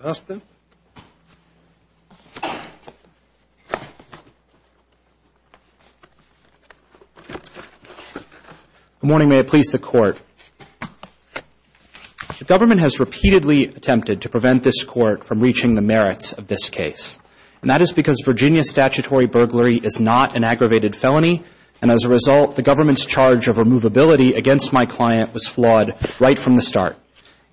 Good morning. May it please the Court. The government has repeatedly attempted to prevent this Court from reaching the merits of this case, and that is because Virginia statutory burglary is not an aggravated felony, and as a result, the government's charge of removability against my client was flawed right from the start.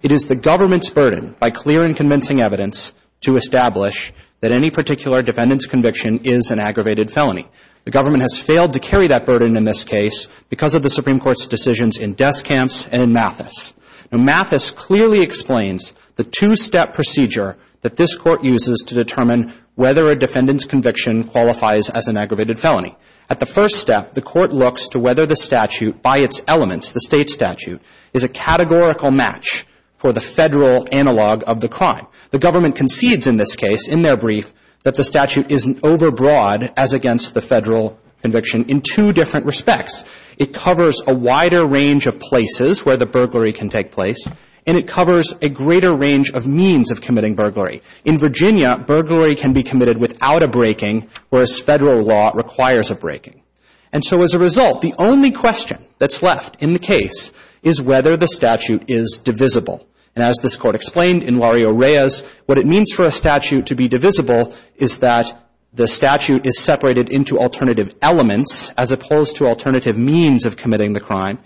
It is the government's burden, by clear and convincing evidence, to establish that any particular defendant's conviction is an aggravated felony. The government has failed to carry that burden in this case because of the Supreme Court's decisions in Deskamps and in Mathis. Now, Mathis clearly explains the two-step procedure that this Court uses to determine whether a defendant's conviction qualifies as an aggravated felony. At the first step, the Court looks to whether the defendant's, the State's statute, is a categorical match for the Federal analog of the crime. The government concedes in this case, in their brief, that the statute isn't overbroad as against the Federal conviction in two different respects. It covers a wider range of places where the burglary can take place, and it covers a greater range of means of committing burglary. In Virginia, burglary can be committed without a breaking, whereas Federal law requires a breaking. And so, as a result, the only question that's left in the case is whether the statute is divisible. And as this Court explained in Lario-Reyes, what it means for a statute to be divisible is that the statute is separated into alternative elements as opposed to alternative means of committing the crime,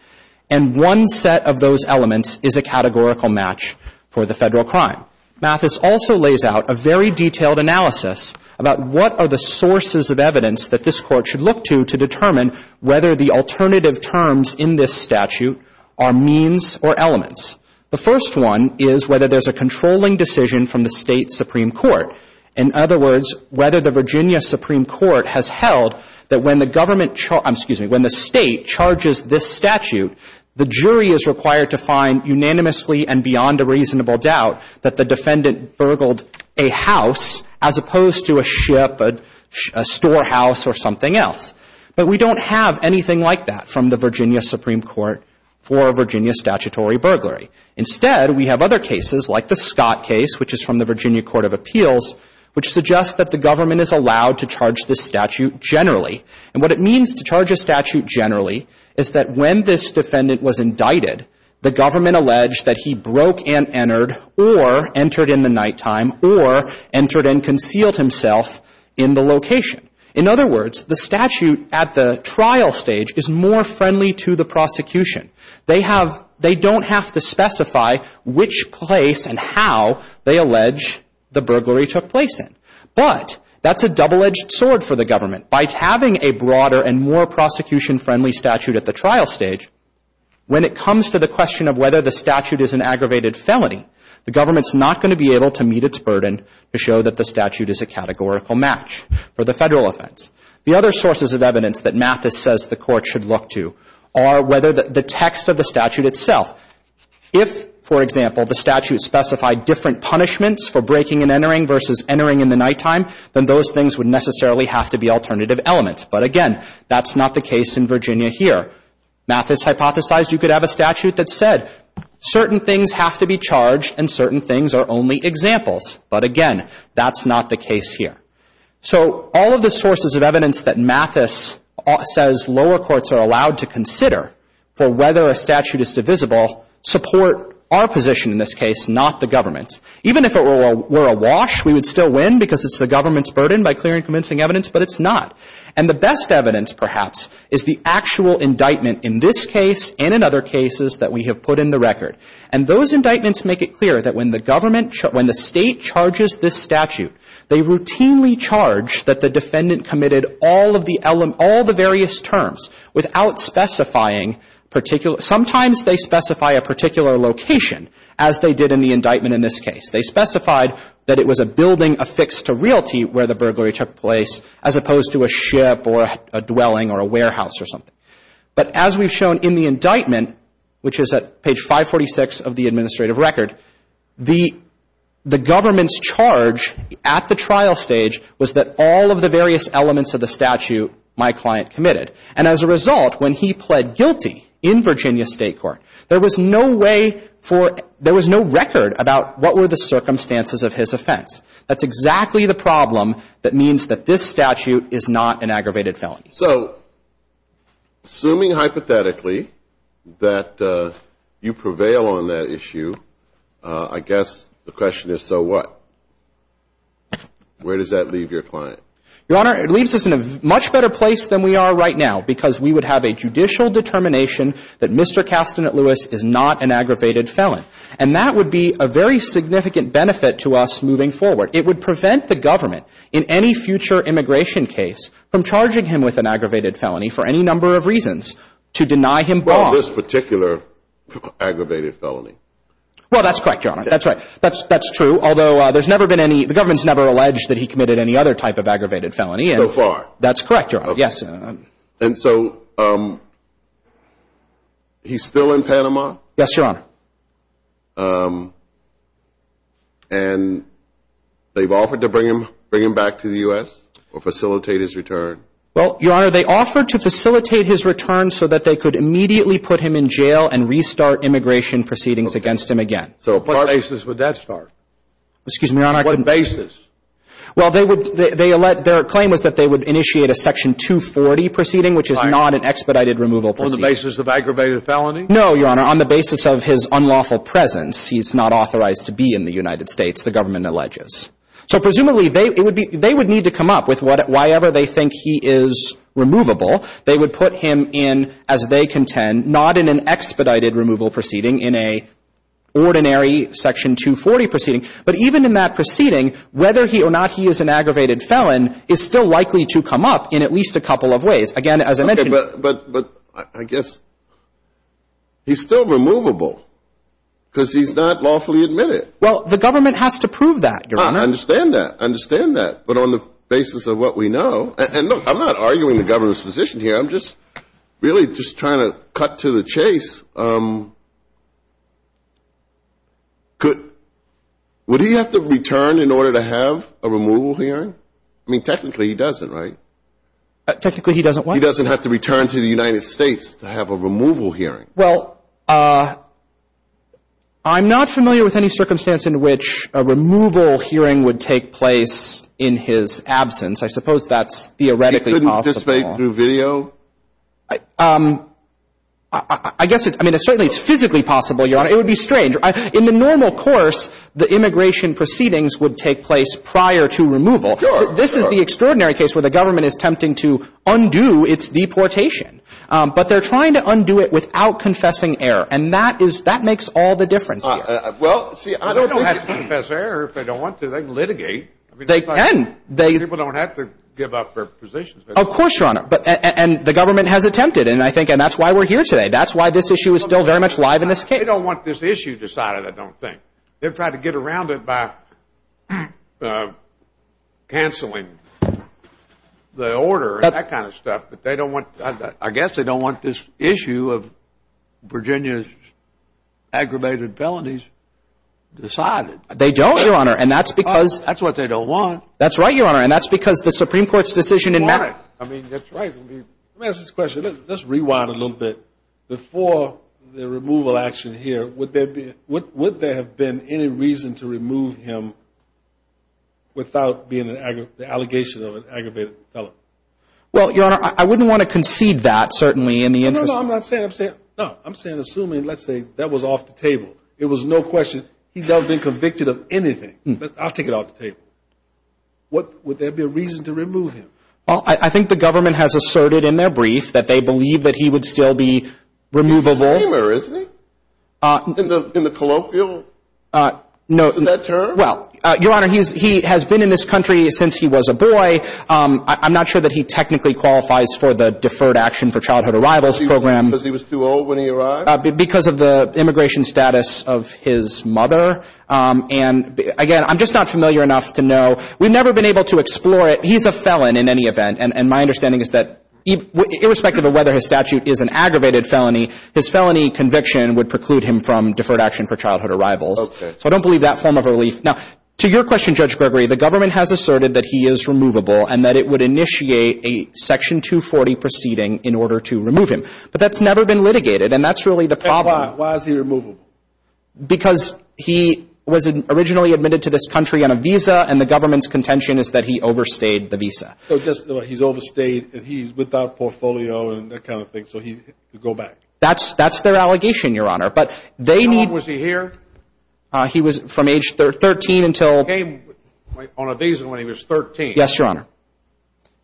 and one set of those elements is a categorical match for the Federal crime. Mathis also lays out a very detailed analysis about what are the sources of evidence that this Court should look to to determine whether the alternative terms in this statute are means or elements. The first one is whether there's a controlling decision from the State supreme court. In other words, whether the Virginia supreme court has held that when the government, excuse me, when the State charges this statute, the jury is required to find unanimously and beyond a reasonable doubt that the defendant burgled a house as opposed to a ship, a storehouse, or something else. But we don't have anything like that from the Virginia supreme court for a Virginia statutory burglary. Instead, we have other cases like the Scott case, which is from the Virginia Court of Appeals, which suggests that the government is allowed to charge this statute generally. And what it means to charge a statute generally is that when this defendant was indicted, the government alleged that he broke and entered or entered in the nighttime or entered and concealed himself in the location. In other words, the statute at the trial stage is more friendly to the prosecution. They have, they don't have to specify which place and how they allege the burglary took place in. But that's a double-edged sword for the When it comes to the question of whether the statute is an aggravated felony, the government is not going to be able to meet its burden to show that the statute is a categorical match for the Federal offense. The other sources of evidence that Mathis says the court should look to are whether the text of the statute itself. If, for example, the statute specified different punishments for breaking and entering versus entering in the nighttime, then those things would necessarily have to be alternative elements. But again, that's not the case in you could have a statute that said certain things have to be charged and certain things are only examples. But again, that's not the case here. So all of the sources of evidence that Mathis says lower courts are allowed to consider for whether a statute is divisible support our position in this case, not the government's. Even if it were awash, we would still win because it's the government's burden by clearing and convincing evidence, but it's not. And the best evidence, perhaps, is the actual indictment in this case and in other cases that we have put in the record. And those indictments make it clear that when the government, when the State charges this statute, they routinely charge that the defendant committed all of the various terms without specifying particular – sometimes they specify a particular location, as they did in the indictment in this case. They specified that it was a building affixed to Realty where the burglary took place as opposed to a ship or a dwelling or a warehouse or something. But as we've shown in the indictment, which is at page 546 of the administrative record, the government's charge at the trial stage was that all of the various elements of the statute my client committed. And as a result, when he pled guilty in Virginia State Court, there was no way for – there was no record about what were the circumstances of his offense. That's exactly the problem that means that this statute is not an aggravated felony. So assuming hypothetically that you prevail on that issue, I guess the question is so what? Where does that leave your client? Your Honor, it leaves us in a much better place than we are right now because we would have a judicial determination that Mr. Kastanet-Lewis is not an aggravated felon. And that would be a very significant benefit to us moving forward. It would prevent the government in any future immigration case from charging him with an aggravated felony for any number of reasons to deny him bond. On this particular aggravated felony? Well, that's correct, Your Honor. That's right. That's true. Although there's never been any – the government's never alleged that he committed any other type of aggravated felony. So far? That's correct, Your Honor. Yes. And so he's still in Panama? Yes, Your Honor. And they've offered to bring him back to the U.S. or facilitate his return? Well, Your Honor, they offered to facilitate his return so that they could immediately put him in jail and restart immigration proceedings against him again. So what basis would that start? Excuse me, Your Honor. What basis? Well, they would – their claim was that they would initiate a Section 240 proceeding, which is not an expedited removal proceeding. On the basis of aggravated felony? No, Your Honor. On the basis of his unlawful presence, he's not authorized to be in the United States, the government alleges. So presumably they would need to come up with whatever – whyever they think he is removable, they would put him in, as they contend, not in an expedited removal proceeding, in a ordinary Section 240 proceeding. But even in that proceeding, whether he or not he is an aggravated felon is still likely to come up in at least a couple of ways. Again, as I mentioned – But I guess he's still removable because he's not lawfully admitted. Well, the government has to prove that, Your Honor. I understand that. I understand that. But on the basis of what we know – and look, I'm not arguing the government's position here. I'm just really just trying to cut to the chase. Could – would he have to return in order to have a removal hearing? I mean, technically he doesn't, right? Technically, he doesn't what? He doesn't have to return to the United States to have a removal hearing. Well, I'm not familiar with any circumstance in which a removal hearing would take place in his absence. I suppose that's theoretically possible. He couldn't dissipate through video? I guess – I mean, certainly it's physically possible, Your Honor. It would be strange. In the normal course, the immigration proceedings would take place prior to removal. Sure. This is the extraordinary case where the government is attempting to undo its deportation. But they're trying to undo it without confessing error. And that is – that makes all the difference here. Well, see – They don't have to confess error if they don't want to. They can litigate. They can. People don't have to give up their positions. Of course, Your Honor. And the government has attempted. And I think – and that's why we're here today. That's why this issue is still very much live in this case. They don't want this issue decided, I don't think. They're trying to get around it by canceling the order and that kind of stuff. But they don't want – I guess they don't want this issue of Virginia's aggravated felonies decided. They don't, Your Honor. And that's because – That's what they don't want. That's right, Your Honor. And that's because the Supreme Court's decision in – They want it. I mean, that's right. Let me ask this question. Let's rewind a little bit. Before the removal action here, would there be – would there have been any reason to remove him without being an – the allegation of an aggravated felon? Well, Your Honor, I wouldn't want to concede that, certainly, in the interest of – No, no. I'm not saying – I'm saying – no. I'm saying, assuming, let's say, that was off the table. It was no question. He's never been convicted of anything. I'll take it off the table. What – would there be a reason to remove him? Well, I think the government has asserted in their brief that they believe that he would still be removable. He's a dreamer, isn't he? In the colloquial – No. Isn't that true? Well, Your Honor, he's – he has been in this country since he was a boy. I'm not sure that he technically qualifies for the Deferred Action for Childhood Arrivals program. Because he was too old when he arrived? Because of the immigration status of his mother. And, again, I'm just not familiar enough to know. We've never been able to explore it. He's a felon in any event. And my understanding is that irrespective of whether his statute is an aggravated felony, his felony conviction would preclude him from Deferred Action for Childhood Arrivals. Okay. So I don't believe that form of relief. Now, to your question, Judge Gregory, the government has asserted that he is removable and that it would initiate a Section 240 proceeding in order to remove him. But that's never been litigated. And that's really the problem. And why? Why is he removable? Because he was originally admitted to this country on a visa. And the government's contention is that he overstayed the visa. So just he's overstayed and he's without portfolio and that kind of thing. So he could go back? That's their allegation, Your Honor. But they need... How long was he here? He was from age 13 until... He came on a visa when he was 13. Yes, Your Honor.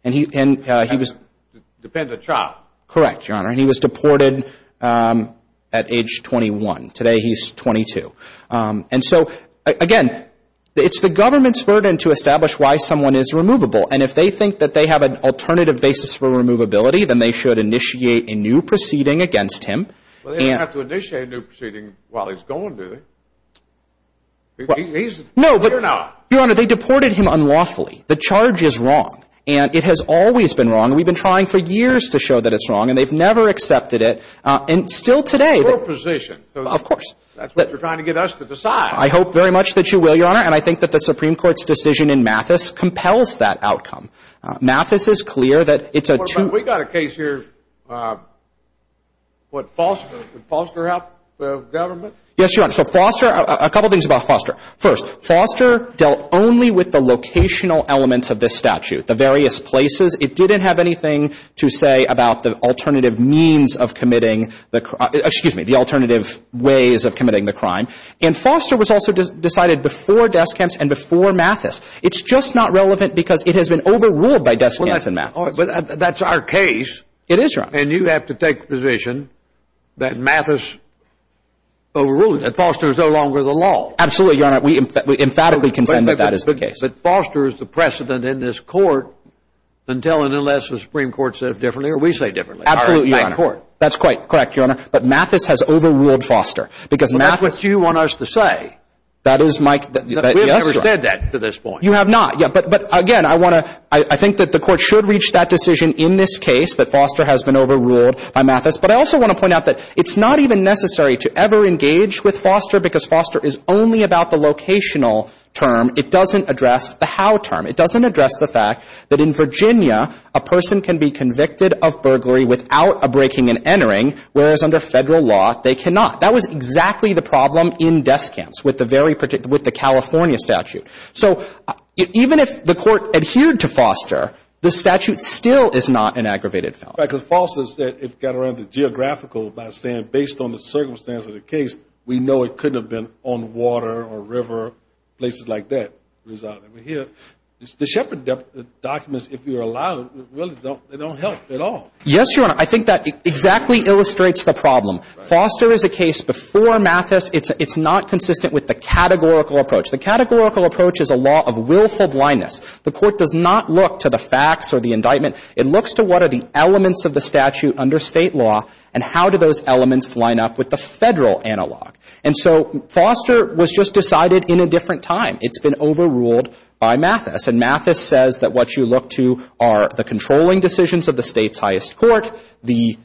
And he was... Dependent child. Correct, Your Honor. And he was deported at age 21. Today he's 22. And so, again, it's the government's burden to establish why someone is removable. And if they think that they have an alternative basis for removability, then they should initiate a new proceeding against him. Well, they don't have to initiate a new proceeding while he's gone, do they? He's here now. No, but, Your Honor, they deported him unlawfully. The charge is wrong. And it has always been wrong. We've been trying for years to show that it's wrong. And they've never accepted it. And still today... It's your position. Of course. That's what you're trying to get us to decide. I hope very much that you will, Your Honor. And I think that the Supreme Court's decision in Mathis compels that outcome. Mathis is clear that it's a... We've got a case here. What, Foster? Did Foster help the government? Yes, Your Honor. So, Foster... A couple things about Foster. First, Foster dealt only with the locational elements of this statute, the various places. It didn't have anything to say about the alternative means of committing the... Excuse me, the alternative ways of It's also decided before Deskamps and before Mathis. It's just not relevant because it has been overruled by Deskamps and Mathis. That's our case. It is wrong. And you have to take the position that Mathis overruled it, that Foster is no longer the law. Absolutely, Your Honor. We emphatically contend that that is the case. But Foster is the precedent in this court until and unless the Supreme Court says differently, or we say differently. Absolutely, Your Honor. By court. That's quite correct, Your Honor. But Mathis has overruled Foster because Mathis... That is my... We have never said that to this point. You have not. But again, I want to... I think that the court should reach that decision in this case, that Foster has been overruled by Mathis. But I also want to point out that it's not even necessary to ever engage with Foster because Foster is only about the locational term. It doesn't address the how term. It doesn't address the fact that in Virginia, a person can be convicted of burglary without a breaking and entering, whereas under Federal law, they cannot. That was exactly the problem in Descantz with the California statute. So even if the court adhered to Foster, the statute still is not an aggravated felony. Right, because Foster said it got around the geographical by saying, based on the circumstance of the case, we know it couldn't have been on water or river, places like that. The Shepherd documents, if you're allowed, really don't help at all. Yes, Your Honor. I think that exactly illustrates the problem. Foster is a case before Mathis. It's not consistent with the categorical approach. The categorical approach is a law of willful blindness. The court does not look to the facts or the indictment. It looks to what are the elements of the statute under State law and how do those elements line up with the Federal analog. And so Foster was just decided in a different time. It's been overruled by Mathis. And Mathis says that what you look to are the controlling decisions of the State's highest court, the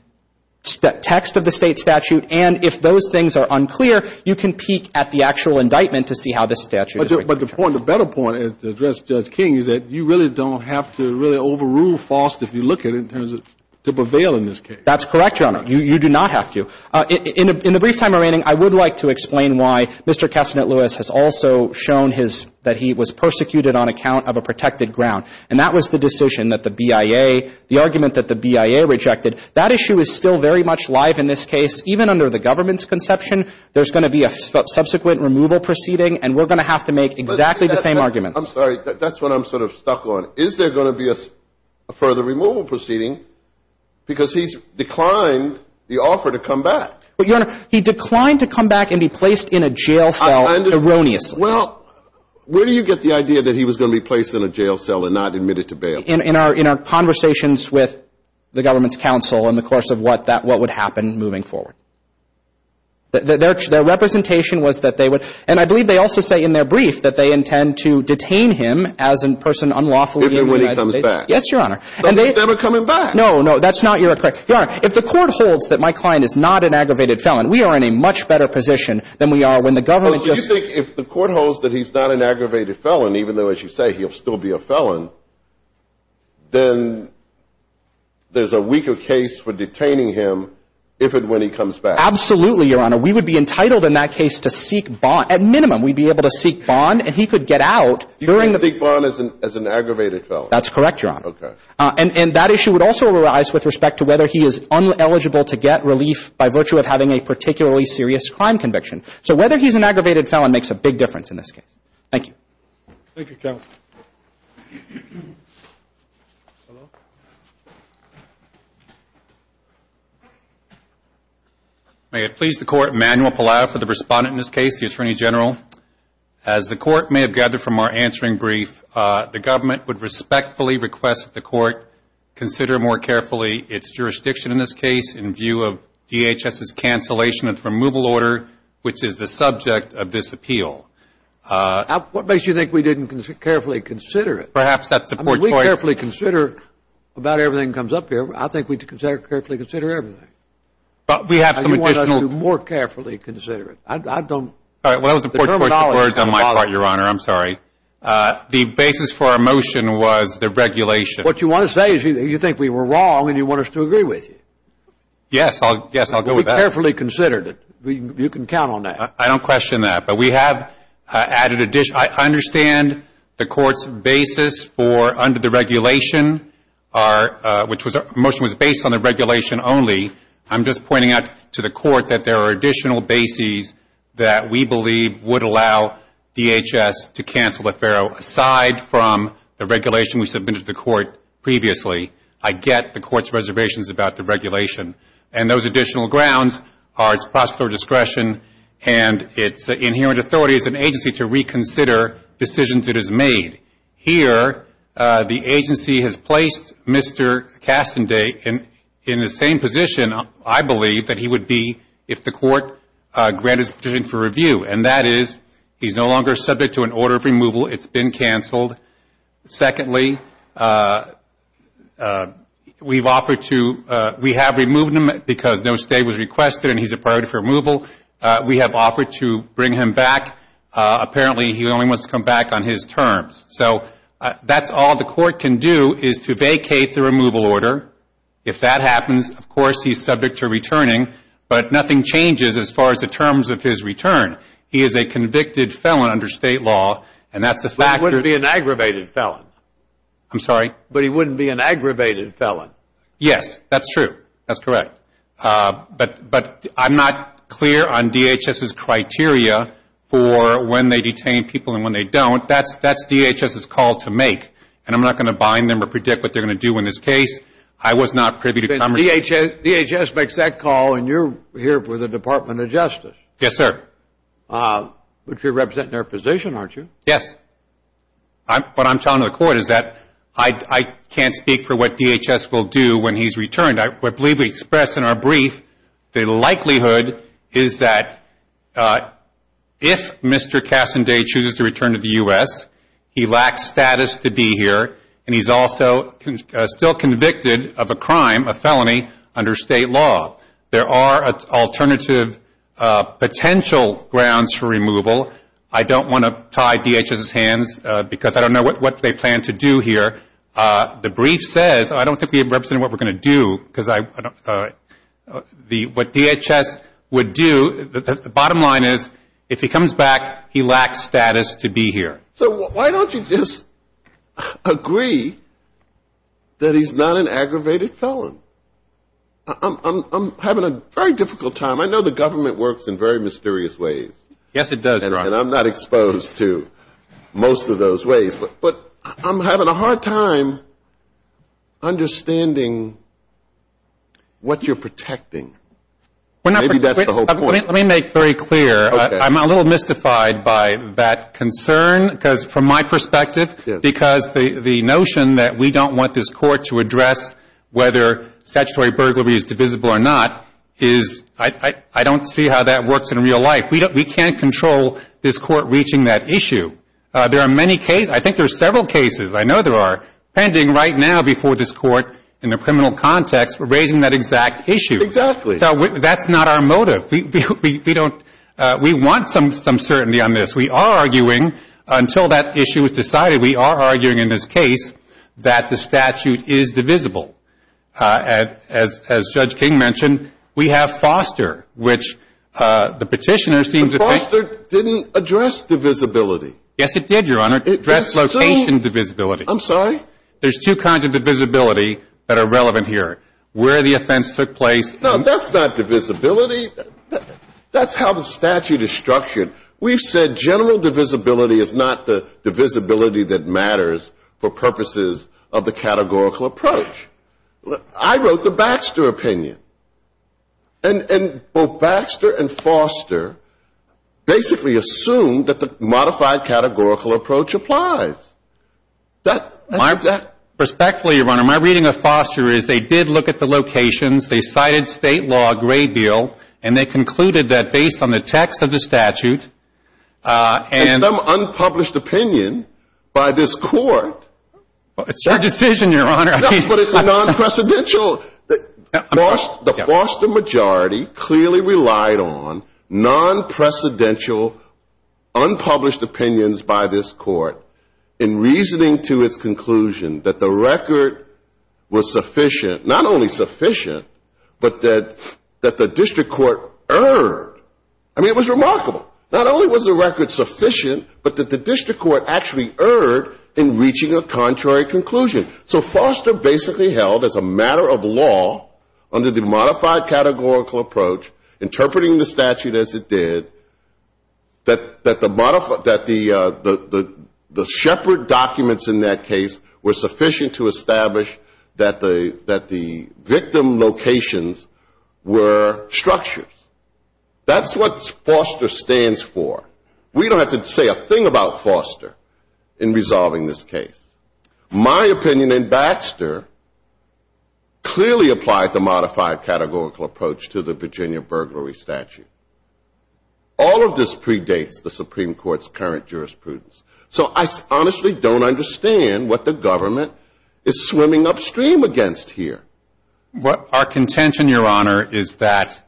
text of the State statute. And if those things are unclear, you can peek at the actual indictment to see how the statute is. But the point, the better point to address, Judge King, is that you really don't have to really overrule Foster if you look at it in terms of to prevail in this case. That's correct, Your Honor. You do not have to. In a brief time remaining, I would like to explain why Mr. Kestanet-Lewis has also shown his, that he was persecuted on account of a protected ground. And that was the decision that the BIA, the argument that the BIA rejected. That issue is still very much live in this case. Even under the government's conception, there's going to be a subsequent removal proceeding and we're going to have to make exactly the same arguments. I'm sorry. That's what I'm sort of stuck on. Is there going to be a further removal proceeding? Because he's declined the offer to come back. But, Your Honor, he declined to come back and be placed in a jail cell erroneously. Well, where do you get the idea that he was going to be placed in a jail cell and not admitted to bail? In our conversations with the government's counsel in the course of what would happen moving forward. Their representation was that they would, and I believe they also say in their brief that they intend to detain him as a person unlawfully in the United States. If and when he comes back. Yes, Your Honor. But what if they were coming back? No, no, that's not your, Your Honor, if the court holds that my client is not an aggravated felon, we are in a much better position than we are when the government just I think if the court holds that he's not an aggravated felon, even though, as you say, he'll still be a felon, then there's a weaker case for detaining him if and when he comes back. Absolutely, Your Honor. We would be entitled in that case to seek bond. At minimum, we'd be able to seek bond and he could get out during the You can't seek bond as an aggravated felon. That's correct, Your Honor. Okay. And that issue would also arise with respect to whether he is eligible to get relief by virtue of having a particularly serious crime conviction. So whether he's an aggravated felon makes a big difference in this case. Thank you. Thank you, counsel. May it please the Court, Emanuel Pallado for the respondent in this case, the Attorney General. As the Court may have gathered from our answering brief, the government would respectfully request that the Court consider more carefully its jurisdiction in this case in view of DHS's cancellation of the removal order, which is the subject of this appeal. What makes you think we didn't carefully consider it? Perhaps that's the poor choice. I mean, we carefully consider about everything that comes up here. I think we carefully consider everything. But we have some additional I want us to more carefully consider it. I don't All right. Well, that was a poor choice of words on my part, Your Honor. I'm sorry. The basis for our motion was the regulation What you want to say is you think we were wrong and you want us to agree with you. Yes. Yes, I'll go with that. We carefully considered it. You can count on that. I don't question that. But we have added additional I understand the Court's basis for under the regulation, which was the motion was based on the regulation only. I'm just pointing out to the Court that there are additional bases that we believe would allow DHS to cancel the FARO. Aside from the regulation we submitted to the Court previously, I get the Court's reservations about the regulation. And those additional grounds are its prosecutorial discretion and its inherent authority as an agency to reconsider decisions it has made. Here, the agency has placed Mr. Cassaday in the same position, I believe, that he would be if the Court granted his petition for review. And that is he's no longer subject to an order of removal, it's been canceled. Secondly, we have removed him because no stay was requested and he's a priority for removal. We have offered to bring him back. Apparently he only wants to come back on his terms. So that's all the Court can do is to vacate the removal order. If that happens, of course he's subject to returning. But nothing changes as far as the terms of his return. He is a factor. But he wouldn't be an aggravated felon. I'm sorry? But he wouldn't be an aggravated felon. Yes, that's true. That's correct. But I'm not clear on DHS's criteria for when they detain people and when they don't. That's DHS's call to make. And I'm not going to bind them or predict what they're going to do in this case. I was not privy to conversation. DHS makes that call and you're here for the Department of Justice. Yes, sir. But you're representing their position, aren't you? Yes. What I'm telling the Court is that I can't speak for what DHS will do when he's returned. I believe we expressed in our brief the likelihood is that if Mr. Cassaday chooses to return to the U.S., he lacks status to be here and he's also still convicted of a couple grounds for removal. I don't want to tie DHS's hands because I don't know what they plan to do here. The brief says I don't think we represent what we're going to do because what DHS would do, the bottom line is if he comes back, he lacks status to be here. So why don't you just agree that he's not an aggravated felon? I'm having a very difficult time. I know the government works in very mysterious ways. Yes, it does, Your Honor. And I'm not exposed to most of those ways. But I'm having a hard time understanding what you're protecting. Maybe that's the whole point. Let me make very clear. I'm a little mystified by that concern because from my perspective, because the notion that we don't want this Court to address whether statutory burglary is divisible or not is, I don't see how that works in real life. We can't control this Court reaching that issue. There are many cases, I think there are several cases, I know there are, pending right now before this Court in a criminal context for raising that exact issue. Exactly. That's not our motive. We want some certainty on this. We are arguing, until that issue is decided, we are arguing in this case that the statute is divisible. As Judge King mentioned, we have Foster, which the Petitioner seems to think... But Foster didn't address divisibility. Yes, it did, Your Honor. It addressed location divisibility. I'm sorry? There's two kinds of divisibility that are relevant here. Where the offense took place... No, that's not divisibility. That's how the statute is structured. We've said general divisibility is not the divisibility that matters for purposes of the categorical approach. I wrote the Baxter opinion. And both Baxter and Foster basically assumed that the modified categorical approach applies. Perspectively, Your Honor, my reading of Foster is they did look at the locations, they cited state law, Gray Bill, and they concluded that based on the text of the statute... And some unpublished opinion by this Court... It's your decision, Your Honor. But it's a non-precedential... The Foster majority clearly relied on non-precedential unpublished opinions by this Court in reasoning to its conclusion that the record was sufficient. Not only sufficient, but that the district court erred. I mean, it was remarkable. Not only was the record sufficient, but that the district court actually erred in reaching a contrary conclusion. So Foster basically held as a matter of law, under the modified categorical approach, interpreting the statute as it did, that the shepherd documents in that case were sufficient to establish that the victim locations were structures. That's what Foster stands for. We don't have to say a thing about Foster in resolving this case. My opinion in Baxter clearly applied the modified categorical approach to the Virginia burglary statute. All of this predates the Supreme Court's current jurisprudence. So I honestly don't understand what the government is swimming upstream against here. Our contention, Your Honor, is that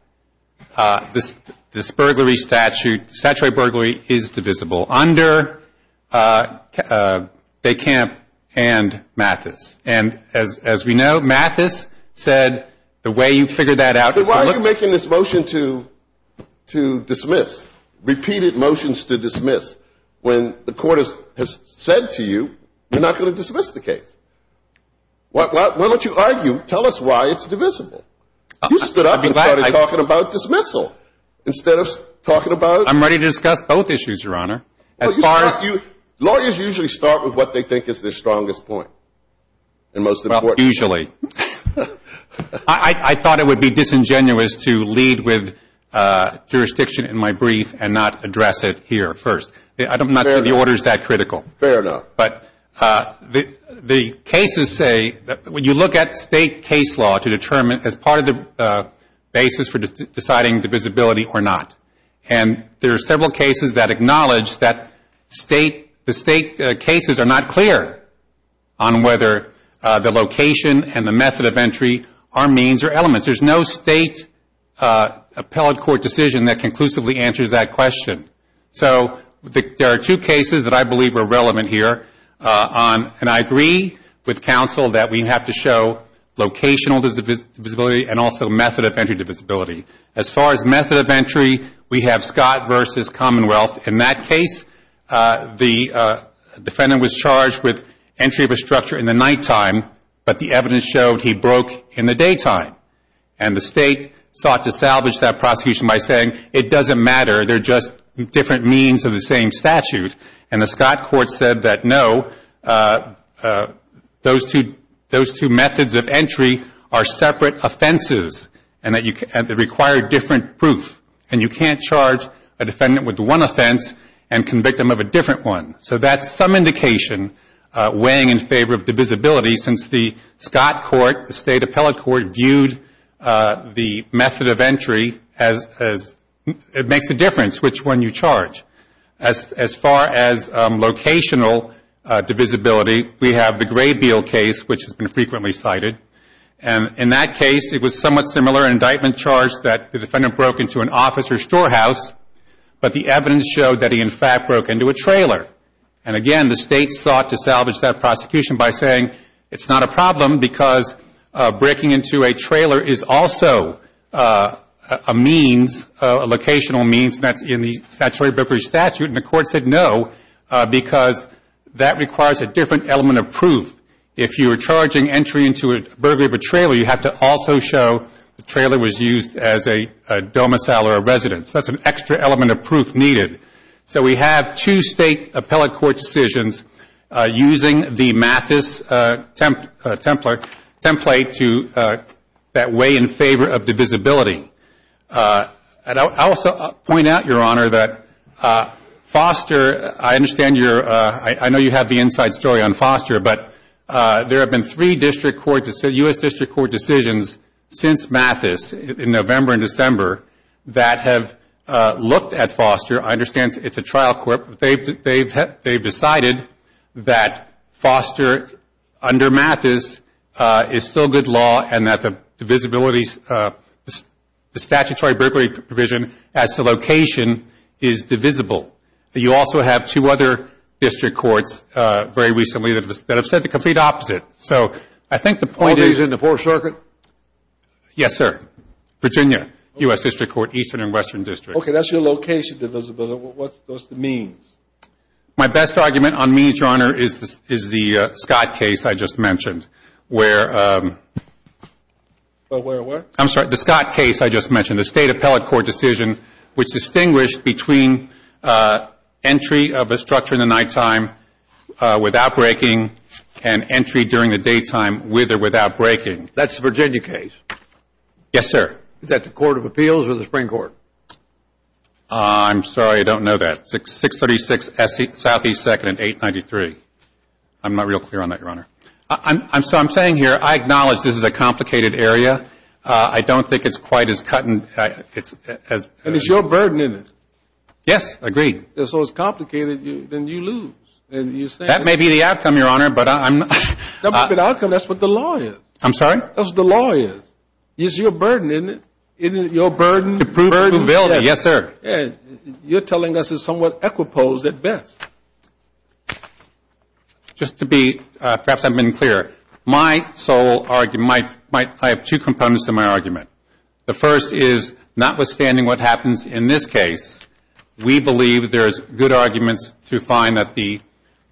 this burglary statute, statutory burglary, is divisible under DeCamp and Mathis. And as we know, Mathis said the way you figured that out... And why are you making this motion to dismiss, repeated motions to dismiss, when the court has said to you, you're not going to dismiss the case? Why don't you argue? Tell us why it's divisible. You stood up and started talking about dismissal instead of talking about... I'm ready to discuss both issues, Your Honor, as far as... Lawyers usually start with what they think is their strongest point, and most importantly... with jurisdiction in my brief and not address it here first. I don't think the order is that critical. Fair enough. But the cases say, when you look at state case law to determine as part of the basis for deciding divisibility or not, and there are several cases that acknowledge that the state cases are not clear on whether the location and the method of entry are means or elements. There's no state appellate court decision that conclusively answers that question. So there are two cases that I believe are relevant here. And I agree with counsel that we have to show locational divisibility and also method of entry divisibility. As far as method of entry, we have Scott versus Commonwealth. In that case, the defendant was charged with entry of a structure in the nighttime, but the evidence showed he broke in the daytime. And the state sought to salvage that prosecution by saying, it doesn't matter, they're just different means of the same statute. And the Scott court said that, no, those two methods of entry are separate offenses and they require different proof. And you can't charge a defendant with one offense and convict them of a different one. So that's some indication weighing in favor of divisibility since the Scott court, the state appellate court, viewed the method of entry as it makes a difference which one you charge. As far as locational divisibility, we have the Gray Beal case, which has been frequently cited. And in that case, it was somewhat similar indictment charge that the defendant broke into an office or storehouse, but the evidence showed that he in fact broke into a trailer. And again, the state sought to salvage that prosecution by saying, it's not a problem because breaking into a trailer is also a means, a locational means that's in the statutory burglary statute. And the court said no, because that requires a different element of proof. If you were charging entry into a burglary of a trailer, you have to also show the trailer was used as a domicile or a residence. That's an extra element of proof needed. So we have two state appellate court decisions using the Mathis template to weigh in favor of divisibility. And I'll also point out, Your Honor, that Foster, I know you have the inside story on Foster, but there have been three U.S. District Court decisions since Mathis in November and December that have looked at Foster. I understand it's a trial court, but they've decided that Foster under Mathis is still good law and that the divisibility, the statutory burglary provision as to location is divisible. You also have two other district courts very recently that have said the complete opposite. So I think the point is... All days in the Fourth Circuit? Yes, sir. Virginia, U.S. District Court, Eastern and Western Districts. Okay, that's your location divisibility. What's the means? My best argument on means, Your Honor, is the Scott case I just mentioned, where... Where, where? I'm sorry, the Scott case I just mentioned, a state appellate court decision which distinguished between entry of a structure in the nighttime without breaking and entry during the daytime with or without breaking. That's the Virginia case? Yes, sir. Is that the Court of Appeals or the Supreme Court? I'm sorry, I don't know that. 636 Southeast 2nd and 893. I'm not real clear on that, Your Honor. So I'm saying here, I acknowledge this is a complicated area. I don't think it's quite as cut and... And it's your burden, isn't it? Yes, agreed. So it's complicated, then you lose. That may be the outcome, Your Honor, but I'm... That may be the outcome, that's what the law is. I'm sorry? That's what the law is. It's your burden, isn't it? Your burden... To prove who billed it, yes, sir. You're telling us it's somewhat equiposed at best. Just to be, perhaps I've been clear. My sole argument, I have two components to my argument. The first is, notwithstanding what happens in this case, we believe there's good arguments to find that the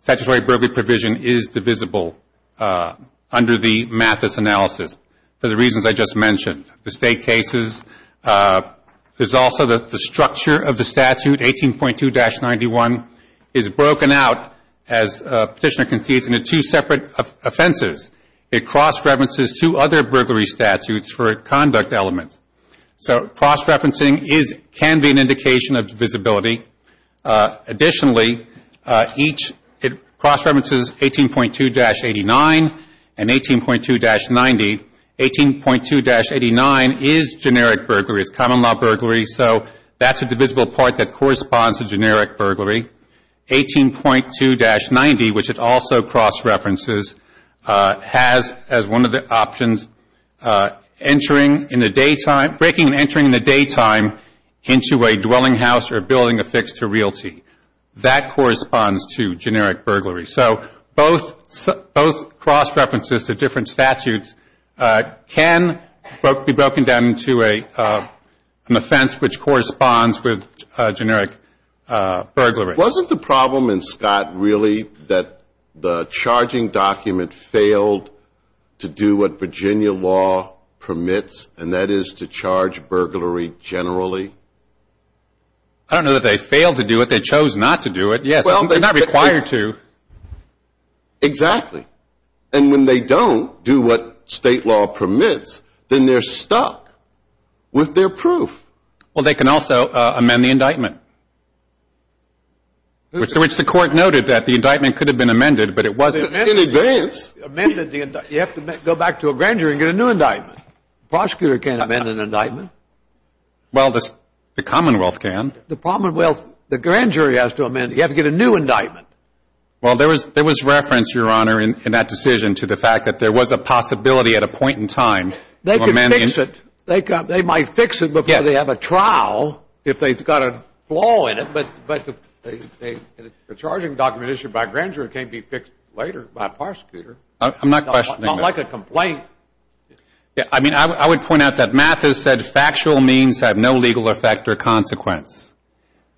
statutory burglary provision is divisible under the Mathis analysis, for the reasons I just mentioned. The state cases, there's also the structure of the statute, 18.2-91, is broken out, as Petitioner concedes, into two separate offenses. It cross-references two other burglary statutes for conduct elements. So cross-referencing can be an indication of divisibility. Additionally, it cross-references 18.2-89 and 18.2-90. 18.2-89 is generic burglary, it's common law burglary, so that's a divisible part that corresponds to generic burglary. 18.2-90, which it also cross-references, has as one of the options, entering in the day time, breaking and entering in the day time into a dwelling house or building affixed to realty. That corresponds to generic burglary. So both cross-references to different statutes can be broken down into an offense which corresponds with generic burglary. Wasn't the problem in Scott really that the charging document failed to do what Virginia law permits, and that is to charge burglary generally? I don't know that they failed to do it, they chose not to do it. Yes, they're not required to. Exactly. And when they don't do what state law permits, then they're stuck with their proof. Well, they can also amend the indictment, which the court noted that the indictment could have been amended, but it wasn't in advance. You have to go back to a grand jury and get a new indictment. The prosecutor can't amend an indictment. Well, the Commonwealth can. The Commonwealth, the grand jury has to amend it. You have to get a new indictment. Well, there was reference, Your Honor, in that decision to the fact that there was a possibility at a point in time to amend the indictment. They might fix it before they have a trial if they've got a flaw in it, but the charging document issued by a grand jury can't be fixed later by a prosecutor. I'm not questioning that. Not like a complaint. I mean, I would point out that Mathis said factual means have no legal effect or consequence.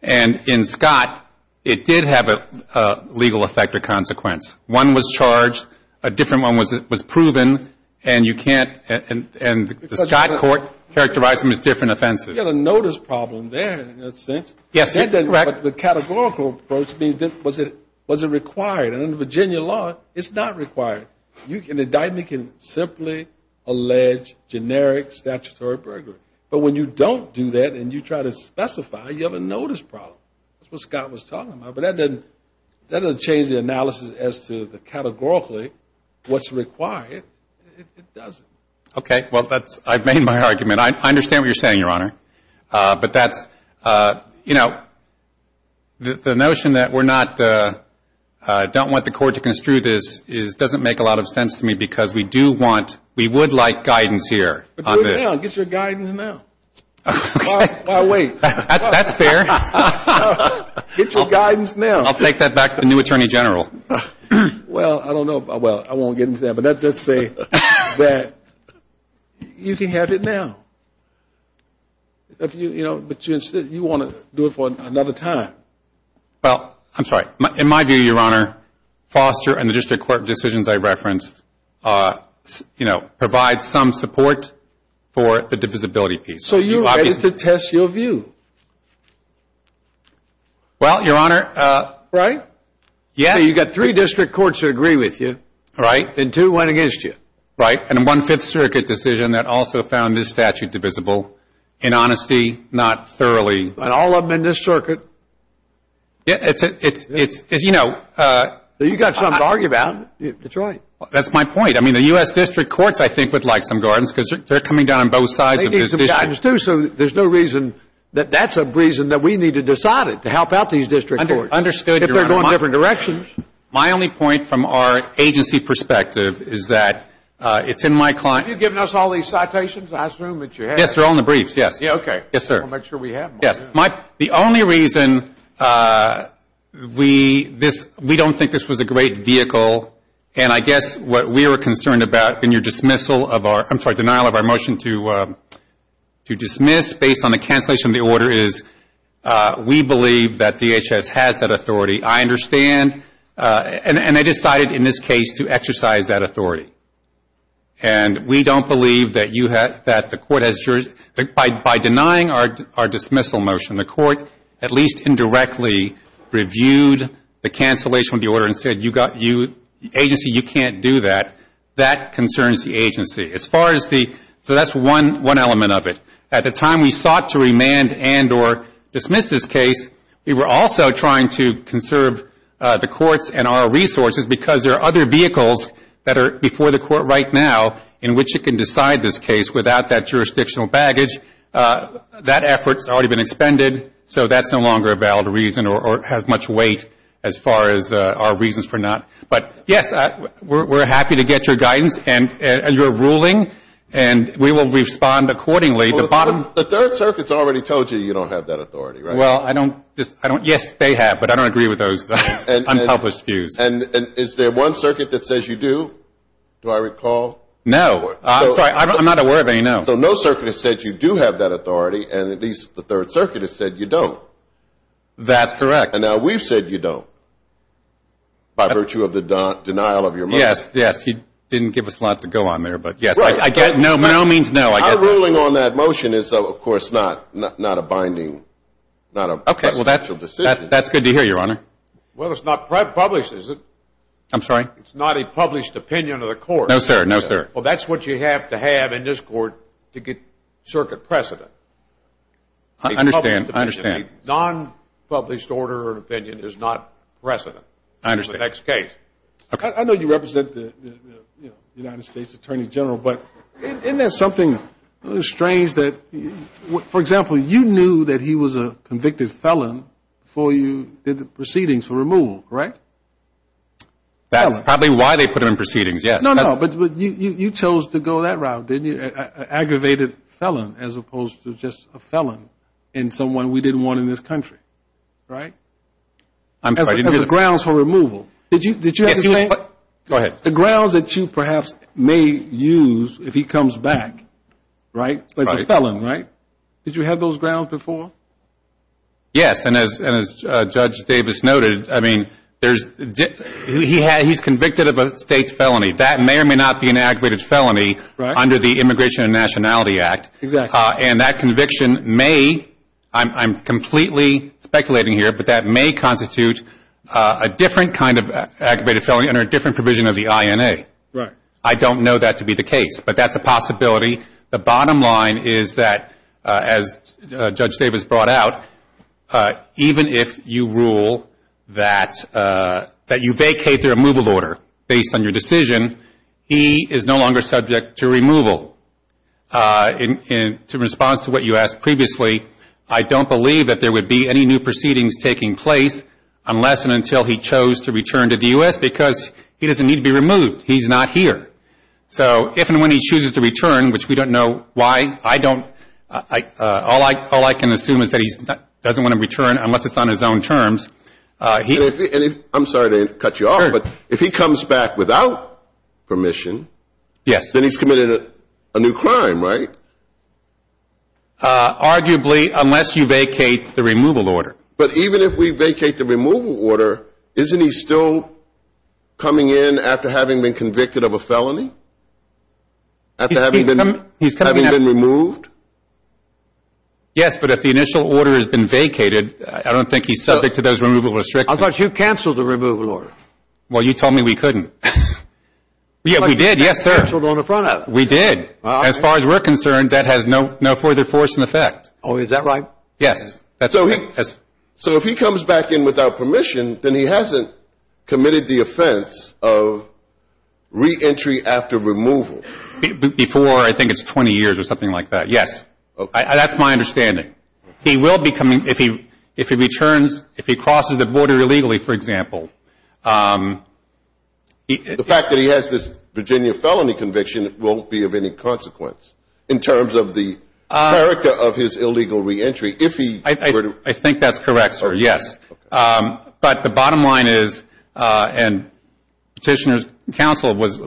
And in Scott, it did have a legal effect or consequence. One was charged, a different one was proven, and you can't, and the Scott court characterized them as different offenses. You have a notice problem there in a sense. Yes, you're correct. But the categorical approach means was it required? And in the Virginia law, it's not required. An indictment can simply allege generic statutory burglary. But when you don't do that and you try to specify, you have a notice problem. That's what Scott was talking about, but that doesn't change the analysis as to categorically what's required. It doesn't. Okay. Well, I've made my argument. I understand what you're saying, Your Honor. But that's, you know, the notion that we're not, don't want the court to construe this doesn't make a lot of sense to me because we do want, we would like guidance here. But do it now. Get your guidance now. Okay. Why wait? That's fair. Get your guidance now. I'll take that back to the new Attorney General. Well, I don't know. Well, I won't get into that. But let's say that you can have it now. But you want to do it for another time. Well, I'm sorry. In my view, Your Honor, Foster and the district court decisions I referenced, you know, provide some support for the divisibility piece. So you're ready to test your view? Well, Your Honor. Right? Yes. So you've got three district courts that agree with you. Right. And two went against you. Right. And a One-Fifth Circuit decision that also found this statute divisible. In honesty, not thoroughly. And all of them in this circuit. It's, you know. You've got something to argue about. Detroit. That's my point. I mean, the U.S. district courts, I think, would like some guidance because they're coming down on both sides of this issue. They need some guidance, too. So there's no reason that that's a reason that we need to decide it, to help out these district courts. Understood, Your Honor. If they're going different directions. My only point from our agency perspective is that it's in my client's. Have you given us all these citations? I assume that you have. Yes. They're all in the briefs. Yes. Okay. Yes, sir. We'll make sure we have them. Yes. The only reason we don't think this was a great vehicle, and I guess what we were concerned about in your dismissal of our I'm sorry, denial of our motion to dismiss based on the cancellation of the order is we believe that DHS has that authority. I understand. And they decided in this case to exercise that authority. And we don't believe that you have, that the court has, by denying our dismissal motion, the court at least indirectly reviewed the cancellation of the order and said, agency, you can't do that. That concerns the agency. As far as the, so that's one element of it. At the time we sought to remand and or dismiss this case, we were also trying to conserve the courts and our resources because there are other vehicles that are before the court right now in which it can decide this case without that jurisdictional baggage. That effort's already been expended, so that's no longer a valid reason or has much weight as far as our reasons for not. But, yes, we're happy to get your guidance and your ruling, and we will respond accordingly. The third circuit's already told you you don't have that authority, right? Well, I don't, yes, they have, but I don't agree with those unpublished views. And is there one circuit that says you do? Do I recall? No. I'm sorry, I'm not aware of any, no. So no circuit has said you do have that authority, and at least the third circuit has said you don't. That's correct. And now we've said you don't by virtue of the denial of your money. Yes, yes, he didn't give us a lot to go on there, but, yes, I get it. No means no. Our ruling on that motion is, of course, not a binding, not a presidential decision. Okay, well, that's good to hear, Your Honor. Well, it's not published, is it? I'm sorry? It's not a published opinion of the court. No, sir, no, sir. Well, that's what you have to have in this court to get circuit precedent. I understand, I understand. A non-published order or opinion is not precedent. I understand. For the next case. I know you represent the United States Attorney General, but isn't there something strange that, for example, you knew that he was a convicted felon before you did the proceedings for removal, right? That's probably why they put him in proceedings, yes. No, no, but you chose to go that route, didn't you? Aggravated felon as opposed to just a felon in someone we didn't want in this country, right? As a grounds for removal. Did you have the same? Go ahead. The grounds that you perhaps may use if he comes back, right, as a felon, right? Did you have those grounds before? Yes, and as Judge Davis noted, I mean, he's convicted of a state felony. That may or may not be an aggravated felony under the Immigration and Nationality Act. Exactly. And that conviction may, I'm completely speculating here, but that may constitute a different kind of aggravated felony under a different provision of the INA. Right. I don't know that to be the case, but that's a possibility. The bottom line is that, as Judge Davis brought out, even if you rule that you vacate the removal order based on your decision, he is no longer subject to removal. In response to what you asked previously, I don't believe that there would be any new proceedings taking place unless and until he chose to return to the U.S. because he doesn't need to be removed. He's not here. So if and when he chooses to return, which we don't know why, I don't, all I can assume is that he doesn't want to return unless it's on his own terms. I'm sorry to cut you off, but if he comes back without permission, then he's committed a new crime, right? Arguably, unless you vacate the removal order. But even if we vacate the removal order, isn't he still coming in after having been convicted of a felony? After having been removed? Yes, but if the initial order has been vacated, I don't think he's subject to those removal restrictions. I thought you canceled the removal order. Well, you told me we couldn't. Yeah, we did. Yes, sir. We did. As far as we're concerned, that has no further force in effect. Oh, is that right? Yes. So if he comes back in without permission, then he hasn't committed the offense of reentry after removal. Before, I think it's 20 years or something like that, yes. That's my understanding. He will be coming, if he returns, if he crosses the border illegally, for example. The fact that he has this Virginia felony conviction won't be of any consequence in terms of the character of his illegal reentry. I think that's correct, sir, yes. But the bottom line is, and Petitioner's counsel was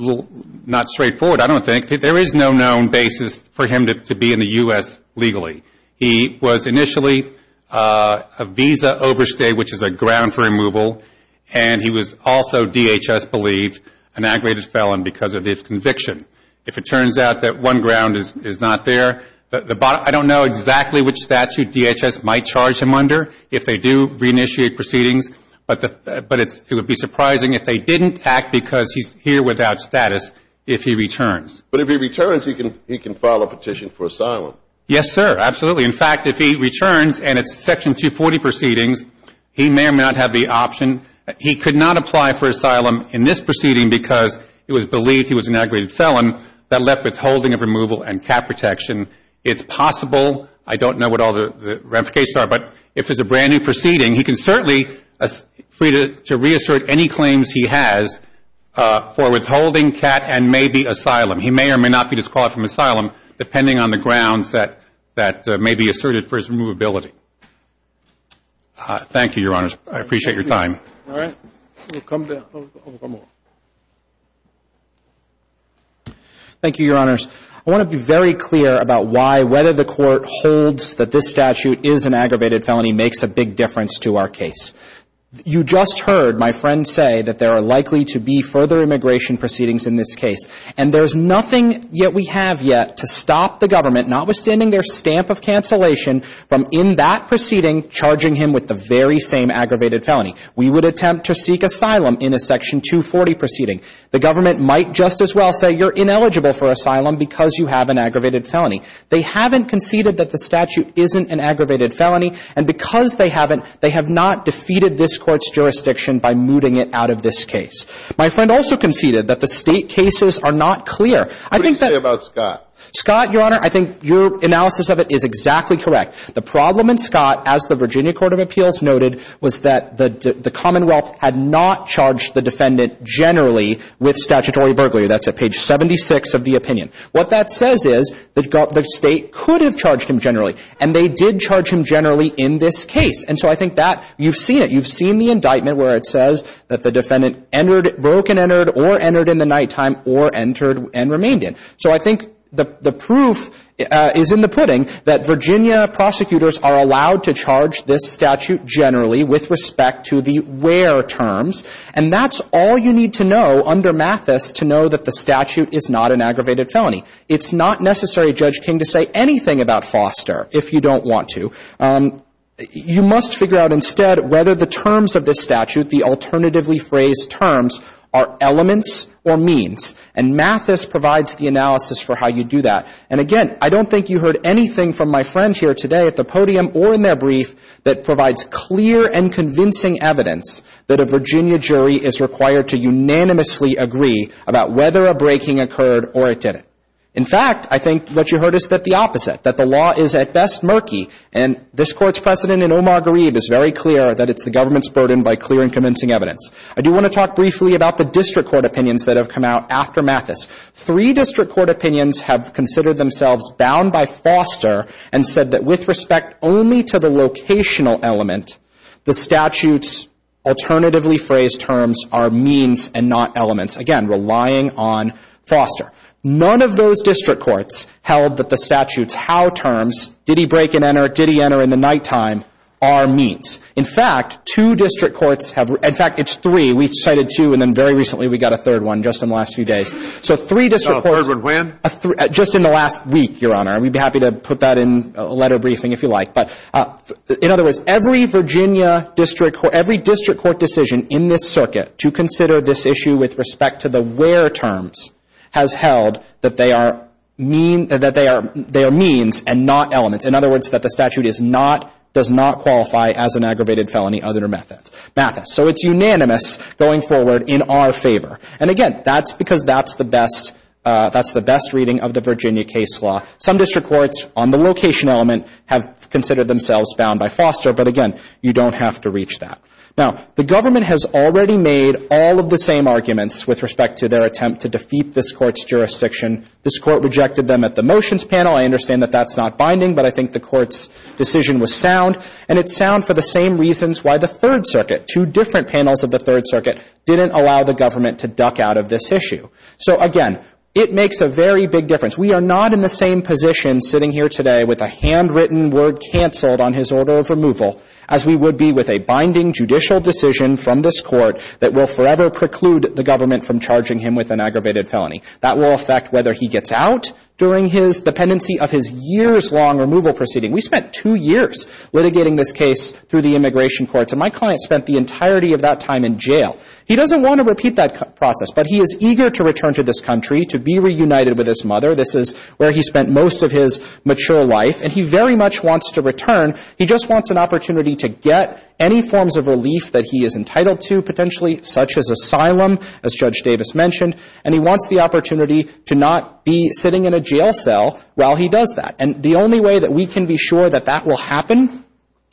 not straightforward, I don't think, there is no known basis for him to be in the U.S. legally. He was initially a visa overstay, which is a ground for removal, and he was also, DHS believed, an aggravated felon because of his conviction. If it turns out that one ground is not there, I don't know exactly which statute DHS might charge him under if they do reinitiate proceedings, but it would be surprising if they didn't act because he's here without status if he returns. But if he returns, he can file a petition for asylum. Yes, sir, absolutely. In fact, if he returns and it's Section 240 proceedings, he may or may not have the option. He could not apply for asylum in this proceeding because it was believed he was an aggravated felon. That left withholding of removal and cat protection. It's possible. I don't know what all the ramifications are, but if it's a brand-new proceeding, he can certainly be free to reassert any claims he has for withholding, cat, and maybe asylum. He may or may not be disqualified from asylum depending on the grounds that may be asserted for his removability. Thank you, Your Honors. I appreciate your time. All right. We'll come to one more. Thank you, Your Honors. I want to be very clear about why whether the Court holds that this statute is an aggravated felony makes a big difference to our case. You just heard my friend say that there are likely to be further immigration proceedings in this case, and there's nothing yet we have yet to stop the government, notwithstanding their stamp of cancellation, from in that proceeding charging him with the very same aggravated felony. We would attempt to seek asylum in a Section 240 proceeding. The government might just as well say you're ineligible for asylum because you have an aggravated felony. They haven't conceded that the statute isn't an aggravated felony, and because they haven't, they have not defeated this Court's jurisdiction by mooting it out of this case. My friend also conceded that the State cases are not clear. I think that — What do you say about Scott? Scott, Your Honor, I think your analysis of it is exactly correct. The problem in Scott, as the Virginia Court of Appeals noted, was that the Commonwealth had not charged the defendant generally with statutory burglary. That's at page 76 of the opinion. What that says is that the State could have charged him generally, and they did charge him generally in this case. And so I think that you've seen it. You've seen the indictment where it says that the defendant broke and entered or entered in the nighttime or entered and remained in. So I think the proof is in the pudding that Virginia prosecutors are allowed to charge this statute generally with respect to the where terms, and that's all you need to know under Mathis to know that the statute is not an aggravated felony. It's not necessary, Judge King, to say anything about Foster if you don't want to. You must figure out instead whether the terms of this statute, the alternatively phrased terms, are elements or means. And Mathis provides the analysis for how you do that. And again, I don't think you heard anything from my friend here today at the podium or in their brief that provides clear and convincing evidence that a Virginia jury is required to unanimously agree about whether a breaking occurred or it didn't. In fact, I think what you heard is that the opposite, that the law is at best murky, and this Court's precedent in Omar Gharib is very clear that it's the government's burden by clear and convincing evidence. I do want to talk briefly about the district court opinions that have come out after Mathis. Three district court opinions have considered themselves bound by Foster and said that with respect only to the locational element, the statute's alternatively phrased terms are means and not elements, again, relying on Foster. None of those district courts held that the statute's how terms, did he break and enter, did he enter in the nighttime, are means. In fact, two district courts have, in fact, it's three. We cited two and then very recently we got a third one just in the last few days. So three district courts. So a third one when? Just in the last week, Your Honor. We'd be happy to put that in a letter briefing if you like. But in other words, every Virginia district court, every district court decision in this circuit to consider this issue with respect to the where terms has held that they are means and not elements. In other words, that the statute is not, does not qualify as an aggravated felony under Mathis. So it's unanimous going forward in our favor. And again, that's because that's the best reading of the Virginia case law. Some district courts on the location element have considered themselves bound by Foster, but again, you don't have to reach that. Now, the government has already made all of the same arguments with respect to their attempt to defeat this Court's jurisdiction. This Court rejected them at the motions panel. I understand that that's not binding, but I think the Court's decision was sound. And it's sound for the same reasons why the Third Circuit, two different panels of the Third Circuit, didn't allow the government to duck out of this issue. So again, it makes a very big difference. We are not in the same position sitting here today with a handwritten word canceled on his order of removal as we would be with a binding judicial decision from this Court that will forever preclude the government from charging him with an aggravated felony. That will affect whether he gets out during his dependency of his years-long removal proceeding. We spent two years litigating this case through the immigration courts, and my client spent the entirety of that time in jail. He doesn't want to repeat that process, but he is eager to return to this country to be reunited with his mother. This is where he spent most of his mature life. And he very much wants to return. He just wants an opportunity to get any forms of relief that he is entitled to, potentially, such as asylum, as Judge Davis mentioned. And he wants the opportunity to not be sitting in a jail cell while he does that. And the only way that we can be sure that that will happen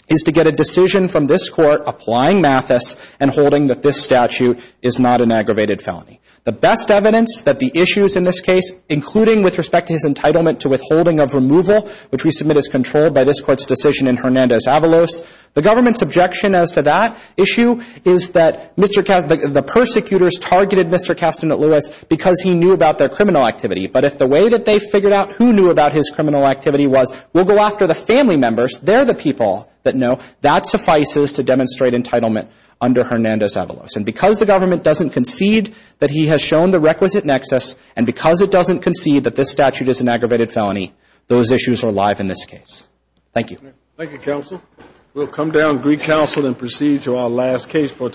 is to get a decision from this Court applying Mathis and holding that this statute is not an aggravated felony. The best evidence that the issues in this case, including with respect to his entitlement to withholding of removal, which we submit is controlled by this Court's decision in Hernandez-Avalos, the government's objection as to that issue is that the persecutors targeted Mr. Castanet-Lewis because he knew about their criminal activity. But if the way that they figured out who knew about his criminal activity was, we'll go after the family members. They're the people that know. That suffices to demonstrate entitlement under Hernandez-Avalos. And because the government doesn't concede that he has shown the requisite nexus, and because it doesn't concede that this statute is an aggravated felony, those issues are alive in this case. Thank you. Thank you, counsel. We'll come down, Greek Council, and proceed to our last case for today.